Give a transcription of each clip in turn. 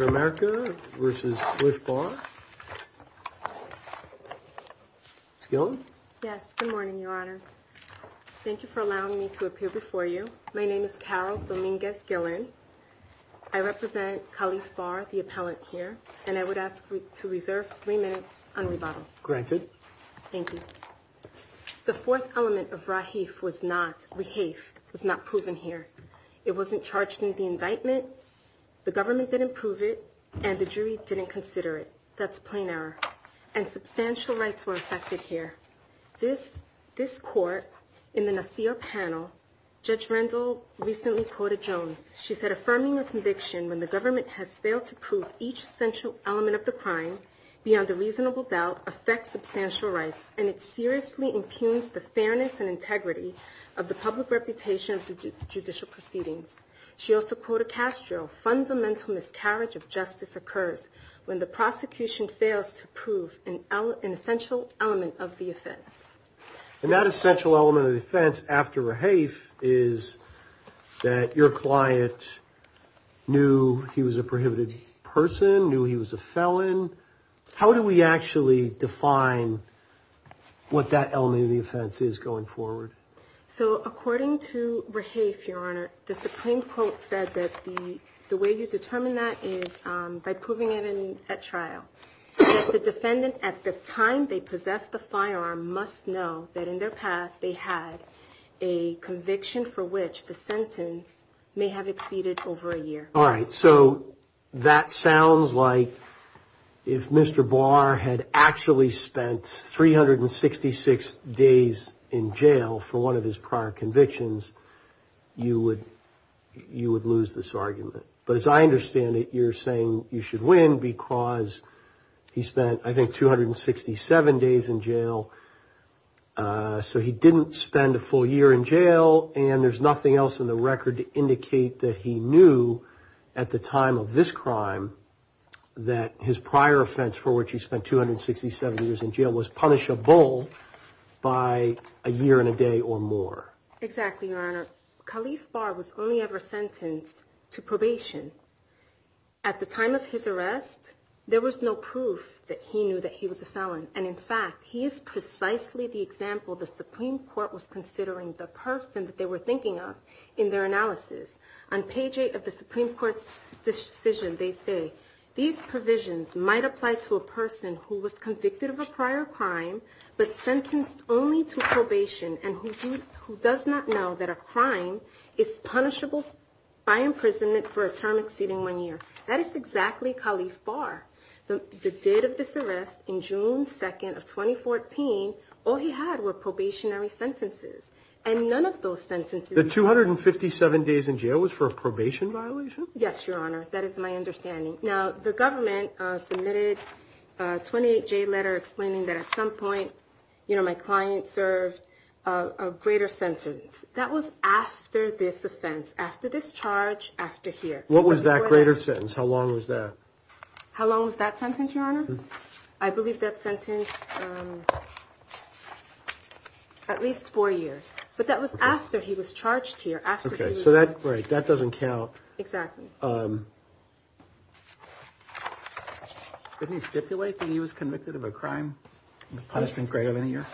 America versus with Barr. Yes, good morning, your honor. Thank you for allowing me to appear before you. My name is Carol Dominguez Gillen. I represent Khalif Barr, the appellant here, and I would ask you to reserve three minutes on rebuttal. Granted. Thank you. The fourth element of Rahif was not, Rahif was not proven here. It wasn't charged in the indictment. The government didn't prove it, and the jury didn't consider it. That's plain error, and substantial rights were affected here. This, this court in the Nasir panel, Judge Rendell recently quoted Jones. She said affirming a conviction when the government has failed to prove each essential element of the crime beyond a reasonable doubt affects substantial rights, and it seriously impugns the fairness and integrity of the public reputation of the judicial proceedings. She also quoted Castro, fundamental miscarriage of justice occurs when the prosecution fails to prove an essential element of the offense. And that essential element of the offense after Rahif is that your client knew he was a prohibited person, knew he was a felon. How do we actually define what that element of the offense is going forward? So according to Rahif, Your Honor, the Supreme Court said that the way you determine that is by proving it in a trial. The defendant at the time they possessed the firearm must know that in their past they had a conviction for which the sentence may have exceeded over a year. All right. So that sounds like if Mr. Barr had actually spent 366 days in jail for one of his prior convictions, you would you would lose this argument. But as I understand it, you're saying you should win because he spent I think 267 days in jail. So he didn't spend a full year in jail and there's nothing else in the record to indicate that he knew at the time of this crime that his prior offense for which he spent 267 years in jail was punishable by a year and a day or more. Exactly, Your Honor. Khalif Barr was only ever sentenced to probation. At the time of his arrest, there was no proof that he knew that he was a felon. And in fact, he is precisely the example the Supreme Court was considering. The person that they were thinking of in their analysis. On page 8 of the Supreme Court's decision, they say these provisions might apply to a person who was convicted of a prior crime, but sentenced only to probation and who does not know that a crime is punishable by imprisonment for a term exceeding one year. That is exactly Khalif Barr. The date of this arrest in June 2nd of 2014, all he had were probationary sentences and none of those sentences... The 257 days in jail was for a probation violation? Yes, Your Honor. That is my understanding. Now, the government submitted a 28-J letter explaining that at some point, you know, my client served a greater sentence. That was after this offense, after this charge, after here. What was that greater sentence? How long was that? How long was that sentence, Your Honor? I believe that sentence, at least four years. But that was after he was charged here, after... Okay, so that, right, that doesn't count. Exactly. Didn't he stipulate that he was convicted of a crime? Punishment greater than a year?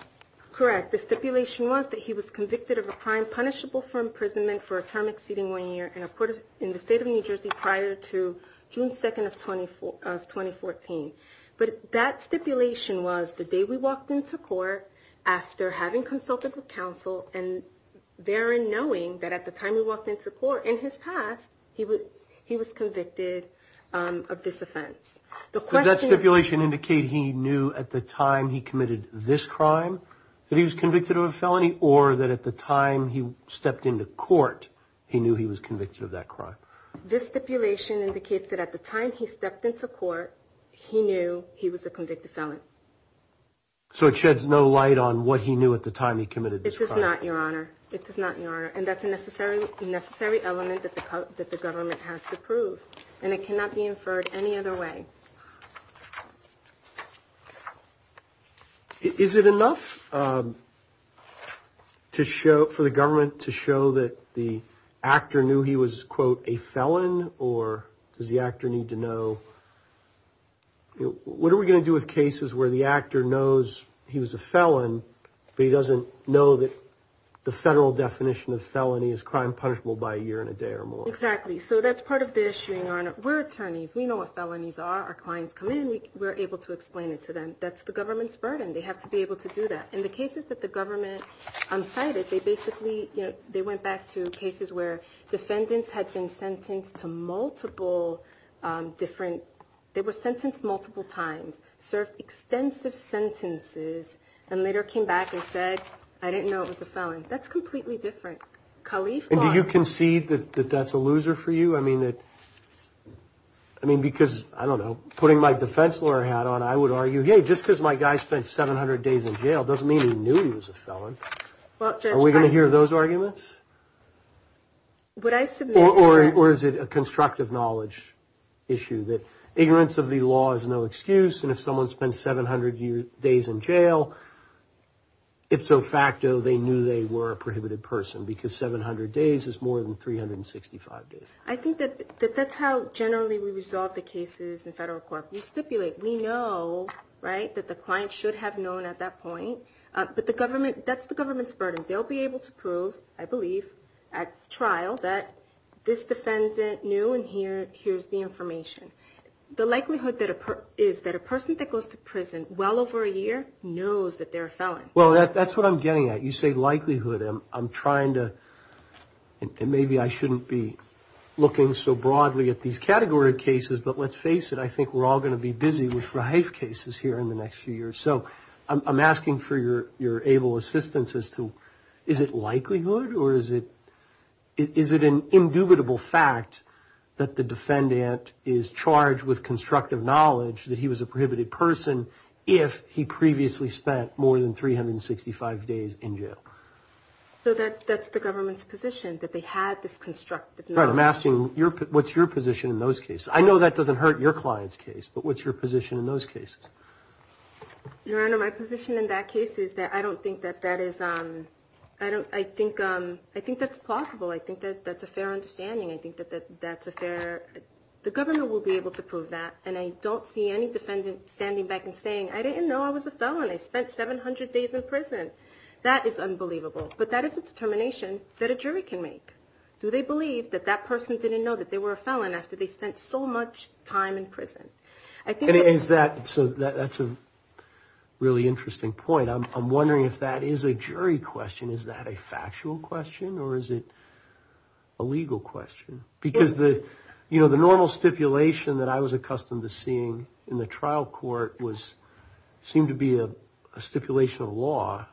Correct. The stipulation was that he was convicted of a crime punishable for imprisonment for a term exceeding one year in the state of New Jersey prior to June 2nd of 2014. But that stipulation was the day we walked into court after having consulted with counsel and therein knowing that at the time we walked into court, in his past, he was convicted of this offense. Does that stipulation indicate he knew at the time he committed this crime that he was convicted of a felony or that at the time he stepped into court, he knew he was convicted of that crime? This stipulation indicates that at the time he stepped into court, he knew he was a convicted felon. So it sheds no light on what he knew at the time he committed this crime? It does not, Your Honor. It does not, Your Honor. And that's a necessary element that the government has to prove. And it cannot be inferred any other way. Is it enough to show, for the government to show that the actor knew he was, quote, a felon or does the actor need to know, what are we going to do with cases where the actor knows he was a felon, but he doesn't know that the federal definition of felony is crime punishable by a year and a day or more? We're attorneys. We know what felonies are. Our clients come in. We're able to explain it to them. That's the government's burden. They have to be able to do that. In the cases that the government cited, they basically, they went back to cases where defendants had been sentenced to multiple different, they were sentenced multiple times, served extensive sentences, and later came back and said, I didn't know it was a felon. That's completely different. And do you concede that that's a loser for you? I mean, because, I don't know, putting my defense lawyer hat on, I would argue, hey, just because my guy spent 700 days in jail doesn't mean he knew he was a felon. Are we going to hear those arguments? Or is it a constructive knowledge issue that ignorance of the law is no excuse, and if someone spends 700 days in jail, ipso facto, they knew they were a prohibited person because 700 days is more than 365 days. I think that that's how generally we resolve the cases in federal court. We stipulate, we know, right, that the client should have known at that point. But the government, that's the government's burden. They'll be able to prove, I believe, at trial, that this defendant knew and here's the information. The likelihood is that a person that goes to prison well over a year knows that they're a felon. Well, that's what I'm getting at. You say likelihood. I'm trying to, and maybe I shouldn't be looking so broadly at these category of cases, but let's face it. I think we're all going to be busy with rife cases here in the next few years. So I'm asking for your able assistance as to, is it likelihood or is it an indubitable fact that the defendant is charged with constructive knowledge that he was a prohibited person if he previously spent more than 365 days in jail? So that's the government's position, that they had this constructive knowledge. Right, I'm asking what's your position in those cases? I know that doesn't hurt your client's case, but what's your position in those cases? Your Honor, my position in that case is that I don't think that that is, I think that's plausible. I think that that's a fair understanding. I think that that's a fair, the government will be able to prove that and I don't see any defendant standing back and saying, I didn't know I was a felon. I spent 700 days in prison. That is unbelievable. But that is a determination that a jury can make. Do they believe that that person didn't know that they were a felon after they spent so much time in prison? And is that, so that's a really interesting point. I'm wondering if that is a jury question. Is that a factual question or is it a legal question? Because the, you know, the normal stipulation that I was accustomed to seeing in the trial court was, seemed to be a stipulation of law.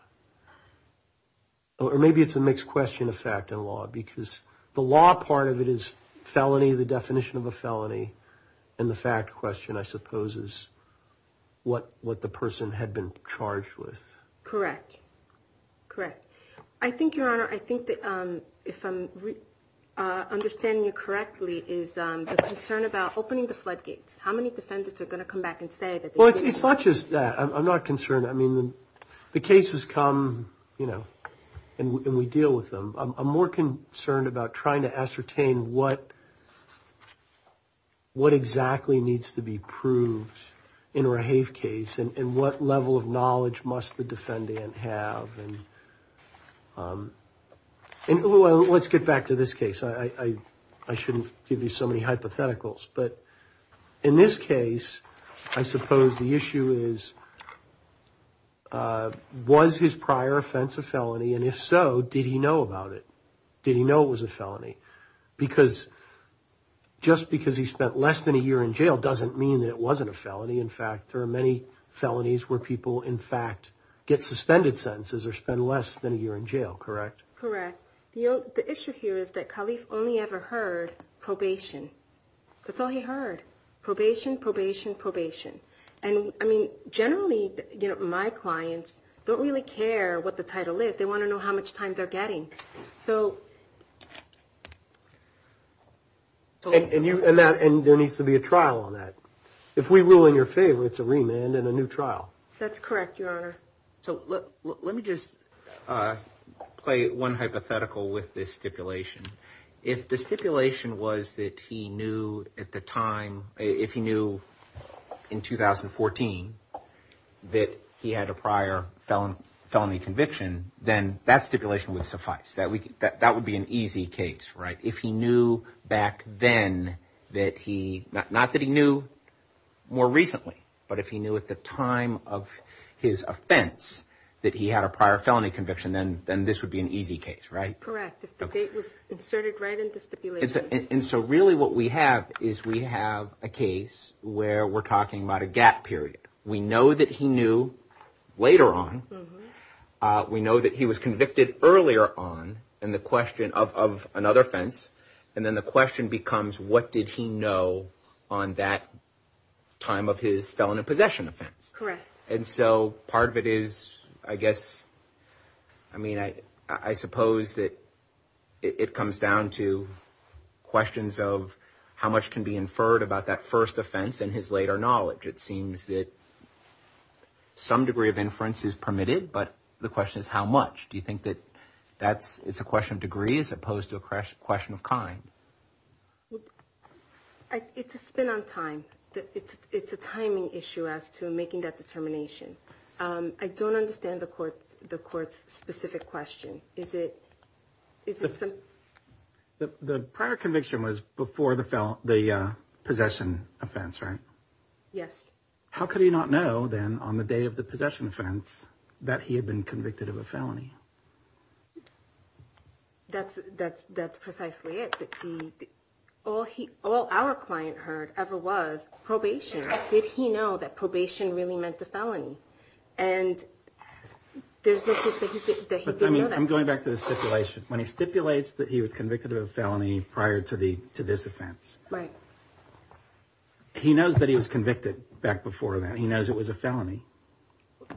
Or maybe it's a mixed question of fact and law because the law part of it is felony, the definition of a felony and the fact question, I suppose, is what the person had been charged with. Correct, correct. I think, Your Honor, I think that if I'm understanding you correctly, is the concern about opening the floodgates. How many defendants are going to come back and say that they did it? Well, it's not just that. I'm not concerned. I mean, the cases come, you know, and we deal with them. I'm more concerned about trying to ascertain what exactly needs to be proved in a Rahave case and what level of knowledge must the defendant have. And let's get back to this case. I shouldn't give you so many hypotheticals. But in this case, I suppose the issue is, was his prior offense a felony? And if so, did he know about it? Did he know it was a felony? Because just because he spent less than a year in jail doesn't mean that it wasn't a felony. In fact, there are many felonies where people, in fact, get suspended sentences or spend less than a year in jail, correct? Correct. The issue here is that Khalif only ever heard probation. That's all he heard. Probation, probation, probation. And, I mean, generally, you know, my clients don't really care what the title is. They want to know how much time they're getting. So. And there needs to be a trial on that. If we rule in your favor, it's a remand and a new trial. That's correct, Your Honor. So let me just play one hypothetical with this stipulation. If the stipulation was that he knew at the time, if he knew in 2014 that he had a prior felony conviction, then that stipulation would suffice. That would be an easy case, right? If he knew back then that he, not that he knew more recently, but if he knew at the time of his offense that he had a prior felony conviction, then this would be an easy case, right? Correct, if the date was inserted right into the stipulation. And so really what we have is we have a case where we're talking about a gap period. We know that he knew later on. We know that he was convicted earlier on in the question of another offense. And then the question becomes, what did he know on that time of his felony possession offense? Correct. And so part of it is, I guess, I mean, I suppose that it comes down to questions of how much can be inferred about that first offense and his later knowledge. It seems that some degree of inference is permitted, but the question is how much? Do you think that that's, it's a question of degree as opposed to a question of kind? It's a spin on time. It's a timing issue as to making that determination. I don't understand the court's specific question. The prior conviction was before the possession offense, right? Yes. How could he not know then on the day of the possession offense that he had been convicted of a felony? That's precisely it. All our client heard ever was probation. Did he know that probation really meant a felony? And there's no case that he didn't know that. I'm going back to the stipulation. When he stipulates that he was convicted of a felony prior to this offense. Right. He knows that he was convicted back before that. He knows it was a felony.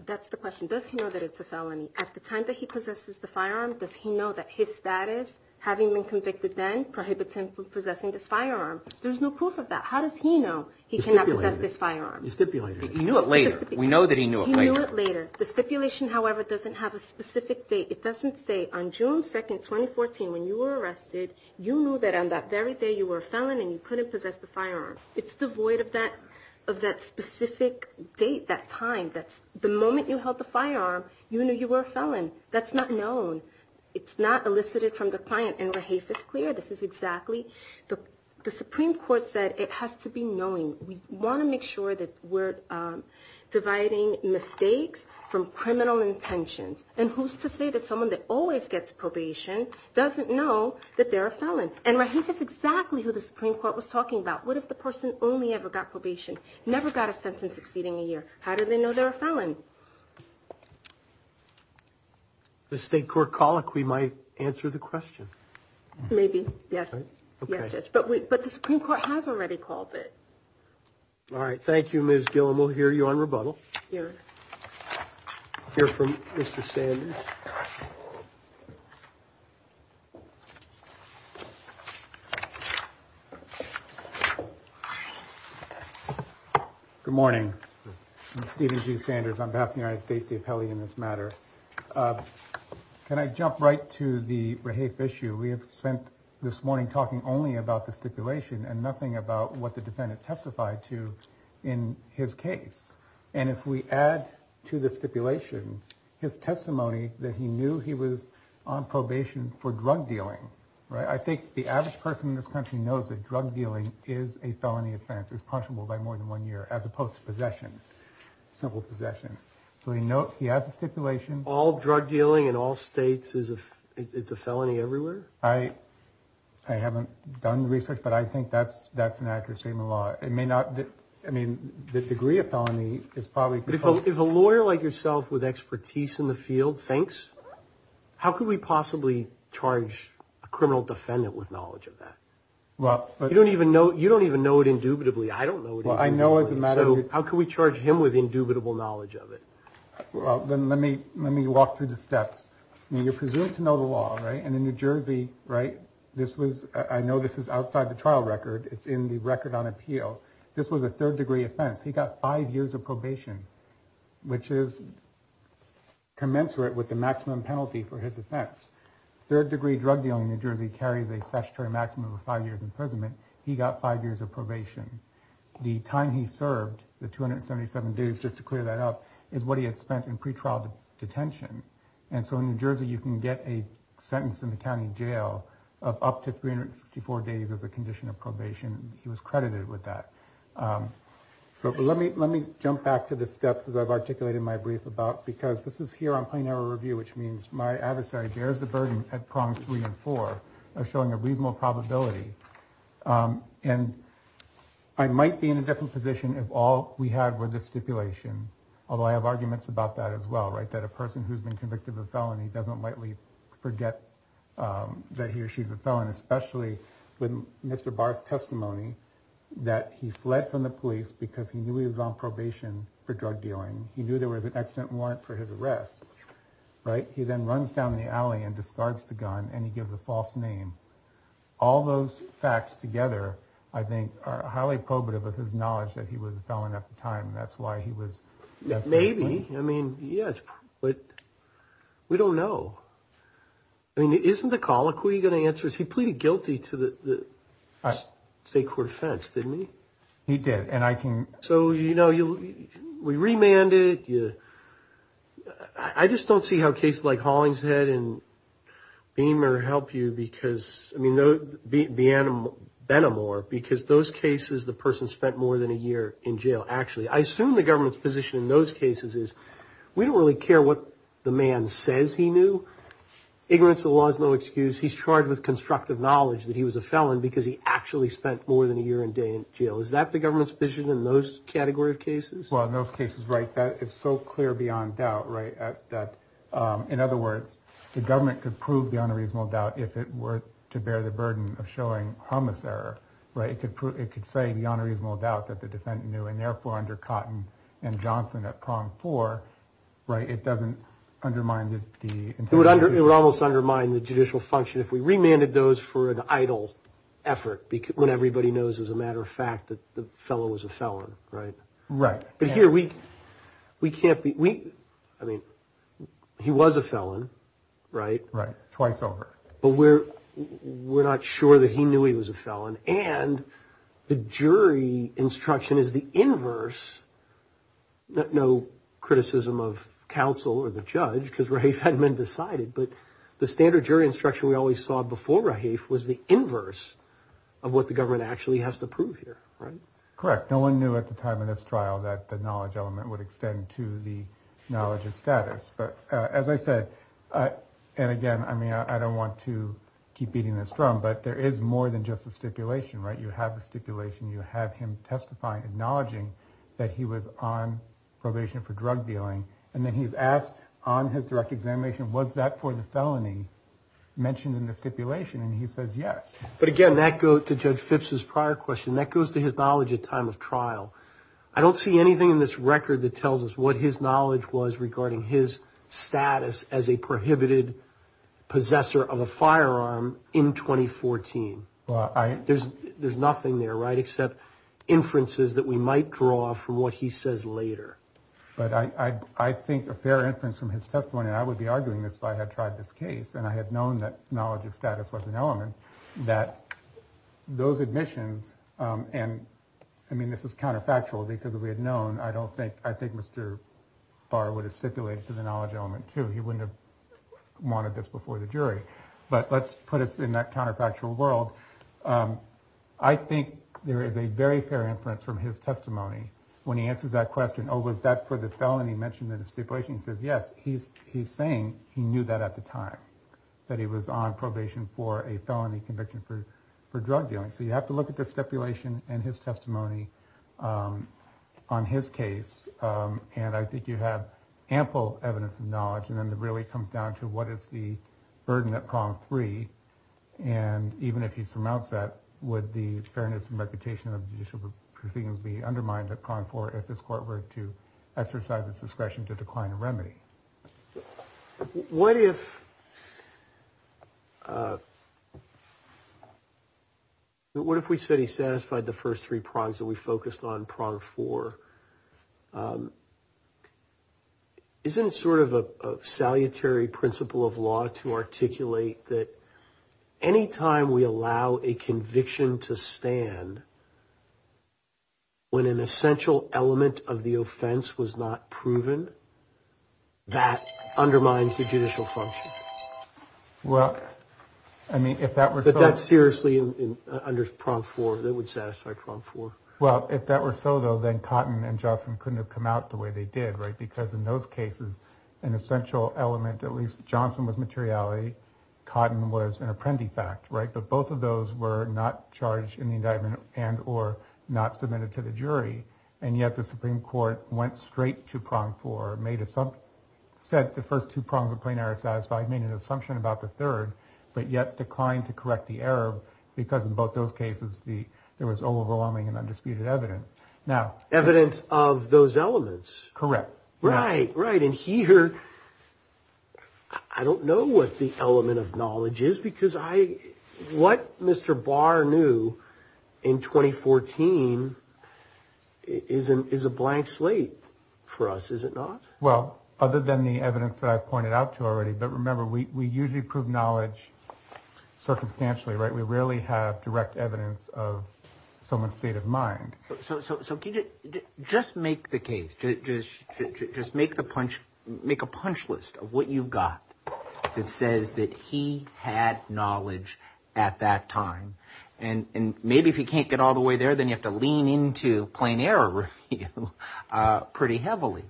That's the question. Does he know that it's a felony? At the time that he possesses the firearm, does he know that his status, having been convicted then, prohibits him from possessing this firearm? There's no proof of that. How does he know he cannot possess this firearm? You stipulated it. He knew it later. We know that he knew it later. The stipulation, however, doesn't have a specific date. It doesn't say, on June 2nd, 2014, when you were arrested, you knew that on that very day you were a felon and you couldn't possess the firearm. It's devoid of that specific date, that time. That's the moment you held the firearm, you knew you were a felon. That's not known. It's not elicited from the client. And Rahaf is clear. This is exactly, the Supreme Court said it has to be knowing. We want to make sure that we're dividing mistakes from criminal intentions. And who's to say that someone that always gets probation doesn't know that they're a felon? And Rahaf is exactly who the Supreme Court was talking about. What if the person only ever got probation, never got a sentence exceeding a year? How do they know they're a felon? The state court colloquy might answer the question. Maybe, yes. Yes, Judge. But the Supreme Court has already called it. All right. Thank you, Ms. Gillum. We'll hear you on rebuttal. We'll hear from Mr. Sanders. Good morning. I'm Stephen G. Sanders on behalf of the United States, the appellee in this matter. Can I jump right to the Rahaf issue? We have spent this morning talking only about the stipulation and nothing about what the defendant testified to in his case. And if we add to the stipulation his testimony, that he knew he was on probation for drug dealing, right? I think the average person in this country knows that drug dealing is a felony offense. It's punishable by more than one year, as opposed to possession, simple possession. So we know he has a stipulation. All drug dealing in all states, it's a felony everywhere? I haven't done research, but I think that's an accurate statement of the law. It may not, I mean, the degree of felony is probably- If a lawyer like yourself with expertise in the field thinks, how could we possibly charge a criminal defendant with knowledge of that? Well, but- You don't even know it indubitably. I don't know it- Well, I know as a matter of- How can we charge him with indubitable knowledge of it? Well, then let me walk through the steps. I mean, you're presumed to know the law, right? And in New Jersey, right, this was, I know this is outside the trial record. It's in the record on appeal. This was a third-degree offense. He got five years of probation, which is commensurate with the maximum penalty for his offense. Third-degree drug dealing in New Jersey carries a statutory maximum of five years imprisonment. He got five years of probation. The time he served, the 277 days, just to clear that up, is what he had spent in pretrial detention. And so in New Jersey, you can get a sentence in the county jail of up to 364 days as a condition of probation. He was credited with that. So let me jump back to the steps as I've articulated my brief about, because this is here on plain error review, which means my adversary bears the burden at prongs three and four of showing a reasonable probability. And I might be in a different position if all we had were this stipulation, although I have arguments about that as well, right, that a person who's been convicted of a felony doesn't likely forget that he or she's a felon, especially with Mr. Barr's testimony that he fled from the police because he knew he was on probation for drug dealing. He knew there was an accident warrant for his arrest, right? He then runs down the alley and discards the gun and he gives a false name. All those facts together, I think, are highly probative of his knowledge that he was a felon at the time. That's why he was. Maybe. I mean, yes, but we don't know. I mean, isn't the colloquy going to answer? He pleaded guilty to the state court offense, didn't he? He did. And I can. So, you know, we remanded you. I just don't see how a case like Hollingshead and Beamer help you because, I mean, the Benamor, because those cases the person spent more than a year in jail. Actually, I assume the government's position in those cases is we don't really care what the man says he knew. Ignorance of the law is no excuse. He's charged with constructive knowledge that he was a felon because he actually spent more than a year and day in jail. Is that the government's vision in those category of cases? Well, in those cases, right. That is so clear beyond doubt. Right. In other words, the government could prove beyond a reasonable doubt if it were to bear the burden of showing homicidal. Right. It could prove it could say beyond a reasonable doubt that the defendant knew. And therefore, under Cotton and Johnson at prong four. Right. It doesn't undermine the. It would under it would almost undermine the judicial function if we remanded those for an idle effort. When everybody knows, as a matter of fact, that the fellow was a felon. Right. Right. But here we we can't be we. I mean, he was a felon. Right. Right. Twice over. But we're we're not sure that he knew he was a felon. And the jury instruction is the inverse. No criticism of counsel or the judge because he had been decided. But the standard jury instruction we always saw before he was the inverse of what the government actually has to prove here. Right. Correct. No one knew at the time of this trial that the knowledge element would extend to the knowledge of status. But as I said, and again, I mean, I don't want to keep beating this drum, but there is more than just a stipulation. Right. You have a stipulation. You have him testifying, acknowledging that he was on probation for drug dealing. And then he's asked on his direct examination, was that for the felony mentioned in the stipulation? And he says, yes. But again, that go to Judge Phipps's prior question that goes to his knowledge at time of trial. I don't see anything in this record that tells us what his knowledge was regarding his status as a prohibited possessor of a firearm in 2014. There's there's nothing there. Right. Except inferences that we might draw from what he says later. But I think a fair inference from his testimony, I would be arguing this. I had tried this case and I had known that knowledge of status was an element that those admissions. And I mean, this is counterfactual because we had known. I don't think I think Mr. Barr would have stipulated to the knowledge element, too. He wouldn't have wanted this before the jury. But let's put us in that counterfactual world. I think there is a very fair inference from his testimony when he answers that question. Oh, was that for the felony mentioned in the stipulation? He says, yes. He's he's saying he knew that at the time that he was on probation for a felony conviction for for drug dealing. So you have to look at the stipulation and his testimony on his case. And I think you have ample evidence and knowledge. And then it really comes down to what is the burden that prom three. And even if he surmounts that with the fairness and reputation of judicial proceedings, would be undermined upon for if his court were to exercise its discretion to decline a remedy. What if? What if we said he satisfied the first three prongs that we focused on prong for? Isn't it sort of a salutary principle of law to articulate that any time we allow a conviction to stand? When an essential element of the offense was not proven, that undermines the judicial function. Well, I mean, if that were that, that's seriously under prompt for that would satisfy prompt for. Well, if that were so, though, then cotton and Johnson couldn't have come out the way they did. Right. Because in those cases, an essential element, at least Johnson was materiality. Cotton was an apprendi fact. Right. But both of those were not charged in the indictment and or not submitted to the jury. And yet the Supreme Court went straight to prompt for made a sub set. The first two prongs of plain error satisfied made an assumption about the third, but yet declined to correct the error because in both those cases, the there was overwhelming and undisputed evidence. Now, evidence of those elements. Correct. Right. Right. And here I don't know what the element of knowledge is because I what Mr. Barr knew in 2014 isn't is a blank slate for us, is it not? Well, other than the evidence that I pointed out to already. But remember, we usually prove knowledge circumstantially. Right. We rarely have direct evidence of someone's state of mind. So just make the case. Just make the punch. Make a punch list of what you've got. It says that he had knowledge at that time. And maybe if you can't get all the way there, then you have to lean into plain error pretty heavily.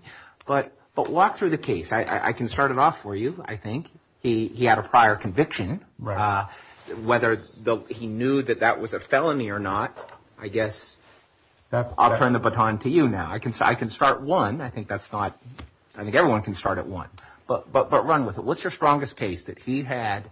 But but walk through the case. I can start it off for you. I think he had a prior conviction. Right. Whether he knew that that was a felony or not, I guess that I'll turn the baton to you now. I can say I can start one. I think that's not I think everyone can start at one. But but but run with it. What's your strongest case that he had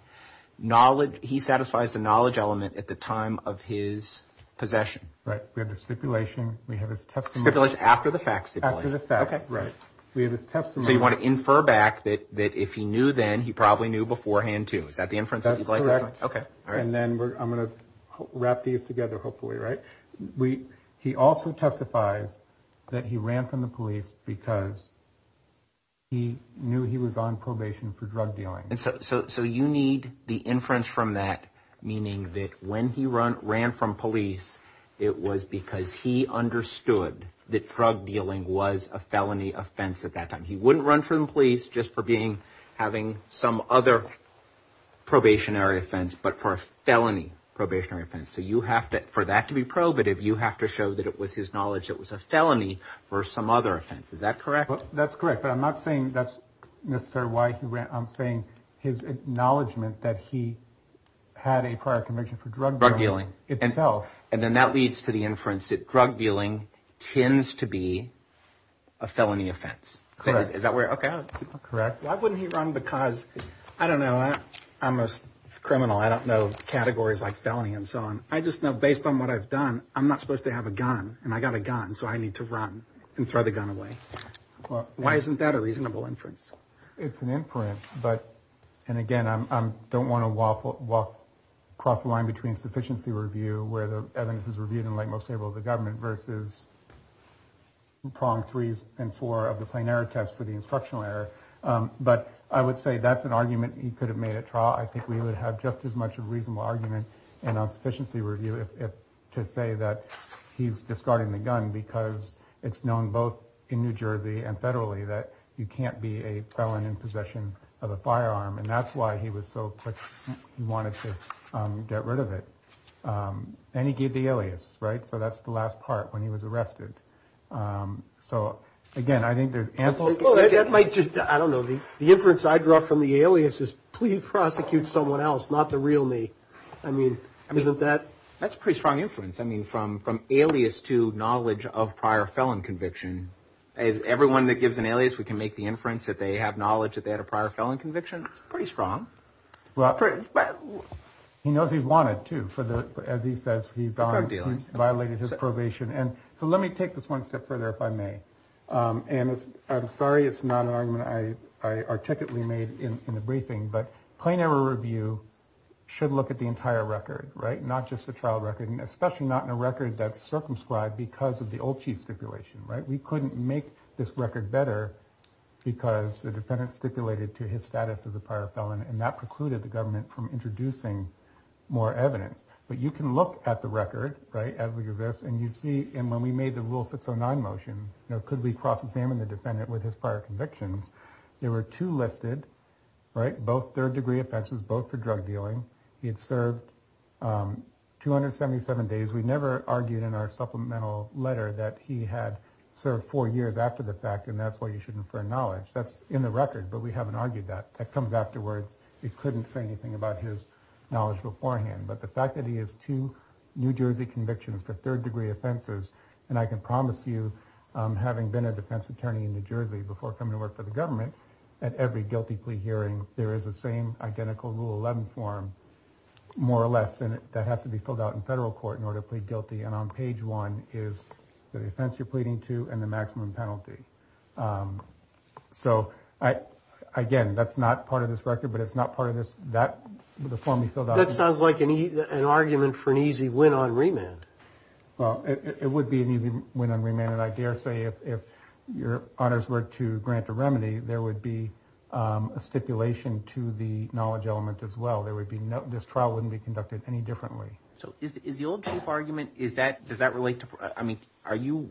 knowledge? He satisfies the knowledge element at the time of his possession. Right. We have the stipulation. We have his testimony after the fact. OK. Right. We have this testimony. You want to infer back that that if he knew then he probably knew beforehand, too. Is that the inference? OK. All right. And then I'm going to wrap these together. Hopefully. Right. We he also testifies that he ran from the police because. He knew he was on probation for drug dealing. And so you need the inference from that, meaning that when he ran from police, it was because he understood that drug dealing was a felony offense at that time. He wouldn't run from police just for being having some other probationary offense, but for a felony probationary offense. So you have to for that to be probative, you have to show that it was his knowledge. It was a felony for some other offense. Is that correct? That's correct. But I'm not saying that's necessarily why he ran. I'm saying his acknowledgement that he had a prior conviction for drug dealing itself. And then that leads to the inference that drug dealing tends to be a felony offense. So is that where. OK. Correct. Why wouldn't he run? Because I don't know. I'm a criminal. I don't know categories like felony and so on. I just know based on what I've done, I'm not supposed to have a gun and I got a gun. And so I need to run and throw the gun away. Why isn't that a reasonable inference? It's an inference. But and again, I don't want to waffle across the line between sufficiency review where the evidence is reviewed and like most people, the government versus. Prong, threes and four of the plain error test for the instructional error. But I would say that's an argument he could have made at trial. I think we would have just as much a reasonable argument. And on sufficiency review, if to say that he's discarding the gun because it's known both in New Jersey and federally that you can't be a felon in possession of a firearm. And that's why he was so quick. He wanted to get rid of it. And he gave the alias. Right. So that's the last part when he was arrested. So, again, I think there's ample. That might just. I don't know. The difference I draw from the alias is please prosecute someone else, not the real me. I mean, isn't that that's pretty strong inference. I mean, from from alias to knowledge of prior felon conviction, everyone that gives an alias, we can make the inference that they have knowledge that they had a prior felon conviction. Pretty strong. Well, he knows he wanted to. But as he says, he's violated his probation. And so let me take this one step further, if I may. And I'm sorry, it's not an argument I articulately made in the briefing, but plain error review should look at the entire record. Right. Not just the trial record, especially not in a record that's circumscribed because of the old chief stipulation. Right. We couldn't make this record better because the defendant stipulated to his status as a prior felon. And that precluded the government from introducing more evidence. But you can look at the record. Right. As we exist. And you see. And when we made the rule six or nine motion, could we cross examine the defendant with his prior convictions? There were two listed. Right. Both third degree offenses, both for drug dealing. He had served 277 days. We never argued in our supplemental letter that he had served four years after the fact. And that's why you should infer knowledge that's in the record. But we haven't argued that that comes afterwards. We couldn't say anything about his knowledge beforehand. But the fact that he has two New Jersey convictions for third degree offenses. And I can promise you, having been a defense attorney in New Jersey before coming to work for the government, at every guilty plea hearing, there is the same identical rule 11 form, more or less. And that has to be filled out in federal court in order to plead guilty. And on page one is the offense you're pleading to and the maximum penalty. So, again, that's not part of this record, but it's not part of this that the form you filled out. That sounds like an argument for an easy win on remand. Well, it would be an easy win on remand. And I dare say if your honors were to grant a remedy, there would be a stipulation to the knowledge element as well. There would be no this trial wouldn't be conducted any differently. So is the old chief argument is that does that relate to I mean, are you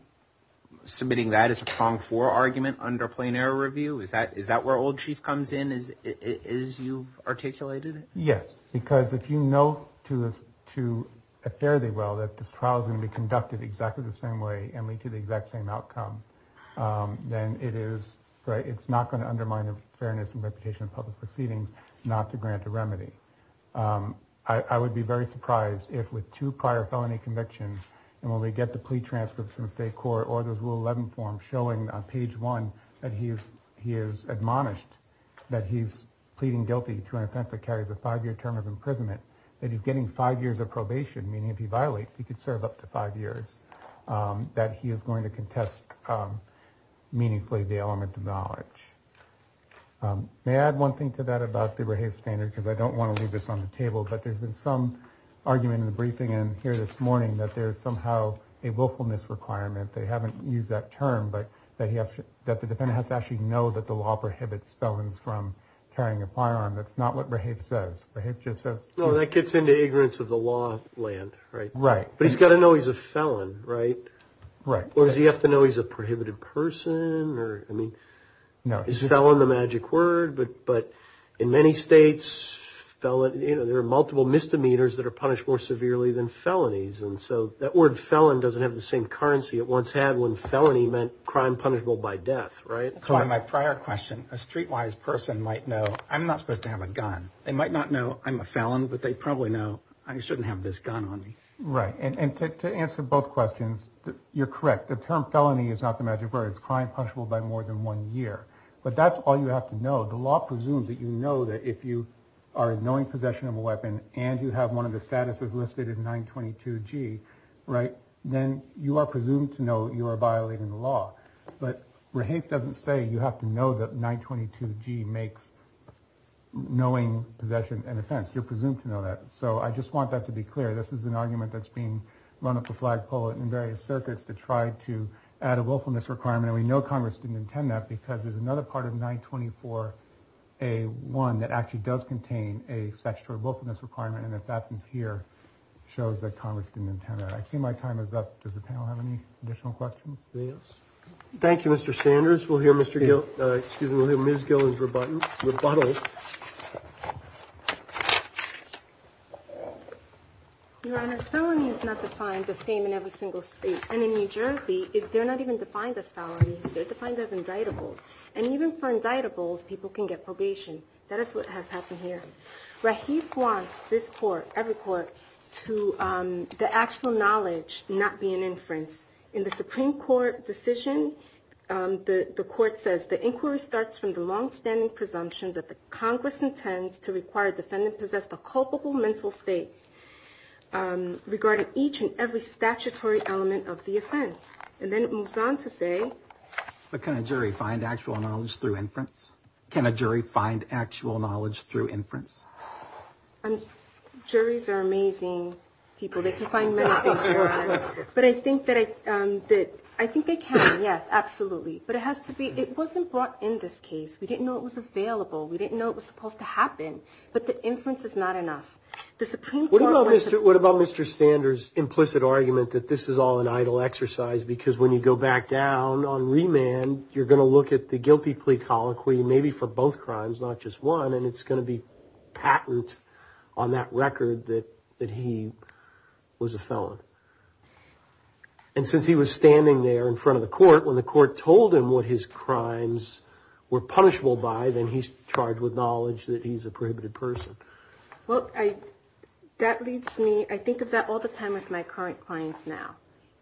submitting that as a strong for argument under plain error review? Is that is that where old chief comes in? Is it is you articulated? Yes, because if you know to us to a fairly well that this trial is going to be conducted exactly the same way and lead to the exact same outcome, then it is right. It's not going to undermine the fairness and reputation of public proceedings not to grant a remedy. I would be very surprised if with two prior felony convictions and when we get the plea transcripts from state court or the rule 11 form showing on page one that he is he is admonished that he's pleading guilty to an offense that carries a five year term of imprisonment, that he's getting five years of probation, meaning if he violates, he could serve up to five years, that he is going to contest meaningfully the element of knowledge. May I add one thing to that about the standard, because I don't want to leave this on the table, but there's been some argument in the briefing and here this morning that there is somehow a willfulness requirement. They haven't used that term, but that he has that the defendant has to actually know that the law prohibits felons from carrying a firearm. That's not what he says. He just says that gets into ignorance of the law land. Right. Right. But he's got to know he's a felon. Right. Right. Or does he have to know he's a prohibited person or I mean, no, he's a felon, the magic word. But but in many states, you know, there are multiple misdemeanors that are punished more severely than felonies. And so that word felon doesn't have the same currency it once had when felony meant crime punishable by death. Right. So my prior question, a streetwise person might know I'm not supposed to have a gun. They might not know I'm a felon, but they probably know I shouldn't have this gun on me. Right. And to answer both questions, you're correct. The term felony is not the magic word. It's crime punishable by more than one year. But that's all you have to know. The law presumes that, you know, that if you are in knowing possession of a weapon and you have one of the statuses listed in 922 G. Right. Then you are presumed to know you are violating the law. But Rahate doesn't say you have to know that 922 G makes knowing possession an offense. You're presumed to know that. So I just want that to be clear. This is an argument that's being run up a flagpole in various circuits to try to add a willfulness requirement. And we know Congress didn't intend that because there's another part of 924 a one that actually does contain a sexual willfulness requirement and its absence here shows that Congress didn't intend that. I see my time is up. Does the panel have any additional questions? Anything else? Thank you, Mr. Sanders. We'll hear Mr. Gill. Excuse me. We'll hear Ms. Gill's rebuttal. Your Honor, felony is not defined the same in every single state. And in New Jersey, they're not even defined as felony. They're defined as indictables. And even for indictables, people can get probation. That is what has happened here. Rahate wants this court, every court, to the actual knowledge not be an inference. In the Supreme Court decision, the court says the inquiry starts from the longstanding presumption that the Congress intends to require defendant possess the culpable mental state regarding each and every statutory element of the offense. And then it moves on to say. But can a jury find actual knowledge through inference? Can a jury find actual knowledge through inference? Juries are amazing people. They can find many things. But I think that I did. I think they can. Yes, absolutely. But it has to be it wasn't brought in this case. We didn't know it was available. We didn't know it was supposed to happen. But the inference is not enough. The Supreme Court. What about Mr. What about Mr. Sanders implicit argument that this is all an idle exercise? Because when you go back down on remand, you're going to look at the guilty plea colloquy. Maybe for both crimes, not just one. And it's going to be patent on that record that that he was a felon. And since he was standing there in front of the court when the court told him what his crimes were punishable by, then he's charged with knowledge that he's a prohibited person. Well, I that leads me. I think of that all the time with my current clients. Now,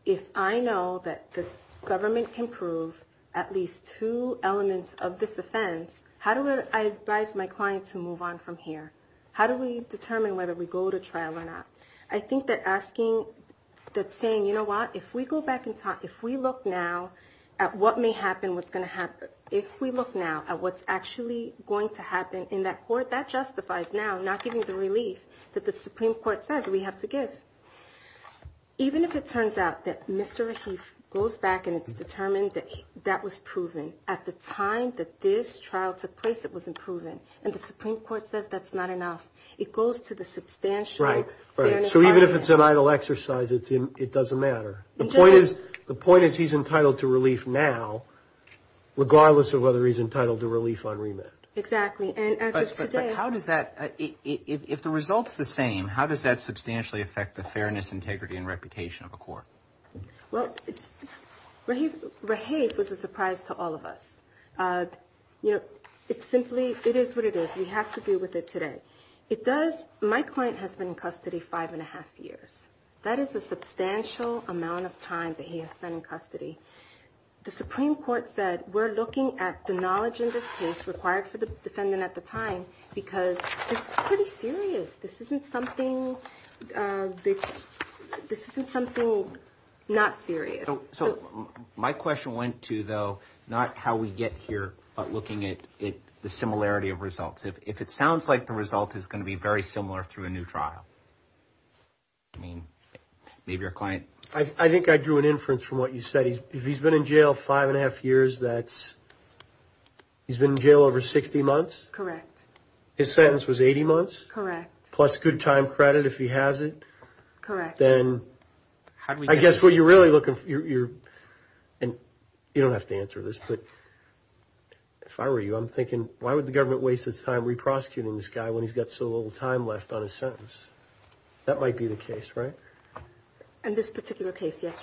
if I know that the government can prove at least two elements of this offense, how do I advise my client to move on from here? How do we determine whether we go to trial or not? I think they're asking that saying, you know what? If we go back and talk, if we look now at what may happen, what's going to happen. If we look now at what's actually going to happen in that court that justifies now not giving the relief that the Supreme Court says we have to give. Even if it turns out that Mr. He goes back and it's determined that that was proven at the time that this trial took place, it wasn't proven. And the Supreme Court says that's not enough. It goes to the substantial. Right. Right. So even if it's an idle exercise, it's it doesn't matter. The point is, the point is he's entitled to relief now, regardless of whether he's entitled to relief on remand. Exactly. And how does that if the results the same, how does that substantially affect the fairness, integrity and reputation of a court? Well, he was a surprise to all of us. You know, it's simply it is what it is. We have to deal with it today. It does. My client has been in custody five and a half years. That is a substantial amount of time that he has spent in custody. The Supreme Court said we're looking at the knowledge in this case required for the defendant at the time because it's pretty serious. This isn't something that this isn't something not serious. So my question went to, though, not how we get here, but looking at it, the similarity of results. If it sounds like the result is going to be very similar through a new trial. I mean, maybe your client, I think I drew an inference from what you said. He's been in jail five and a half years. That's he's been in jail over 60 months. Correct. His sentence was 80 months. Correct. Plus good time credit if he has it. Correct. Then how do we guess what you're really looking for? You're and you don't have to answer this, but if I were you, I'm thinking, why would the government waste its time? When he's got so little time left on a sentence, that might be the case. Right. And this particular case, yes.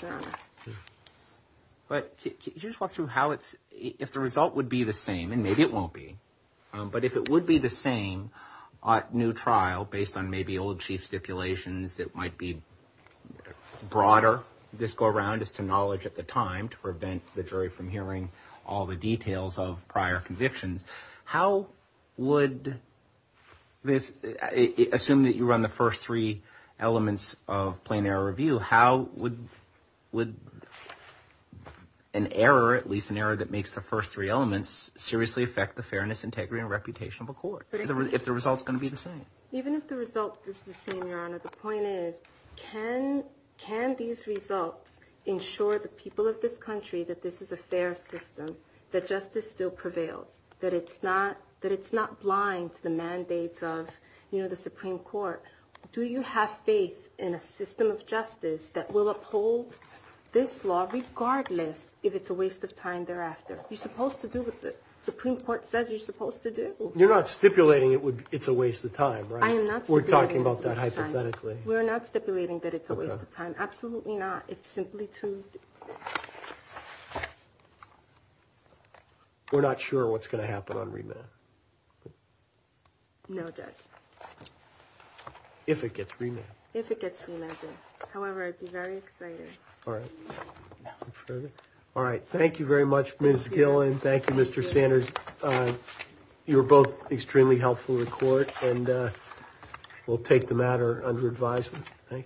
But you just want to know how it's if the result would be the same and maybe it won't be. But if it would be the same new trial based on maybe old chief stipulations, it might be broader. This go around as to knowledge at the time to prevent the jury from hearing all the details of prior convictions. How would this assume that you run the first three elements of plain error review? How would would an error, at least an error that makes the first three elements seriously affect the fairness, integrity and reputation of a court? But if the results are going to be the same, even if the result is the same, your honor, the point is can can these results ensure the people of this country that this is a fair system, that justice still prevails? That it's not that it's not blind to the mandates of the Supreme Court. Do you have faith in a system of justice that will uphold this law regardless if it's a waste of time thereafter? You're supposed to do what the Supreme Court says you're supposed to do. You're not stipulating it would. It's a waste of time. We're talking about that. Hypothetically, we're not stipulating that it's a waste of time. Absolutely not. It's simply to. We're not sure what's going to happen on remand. No, judge. If it gets remanded, if it gets remanded. However, I'd be very excited. All right. All right. Thank you very much, Ms. Gillen. Thank you, Mr. Sanders. You were both extremely helpful in court and we'll take the matter under advisement. Thank you.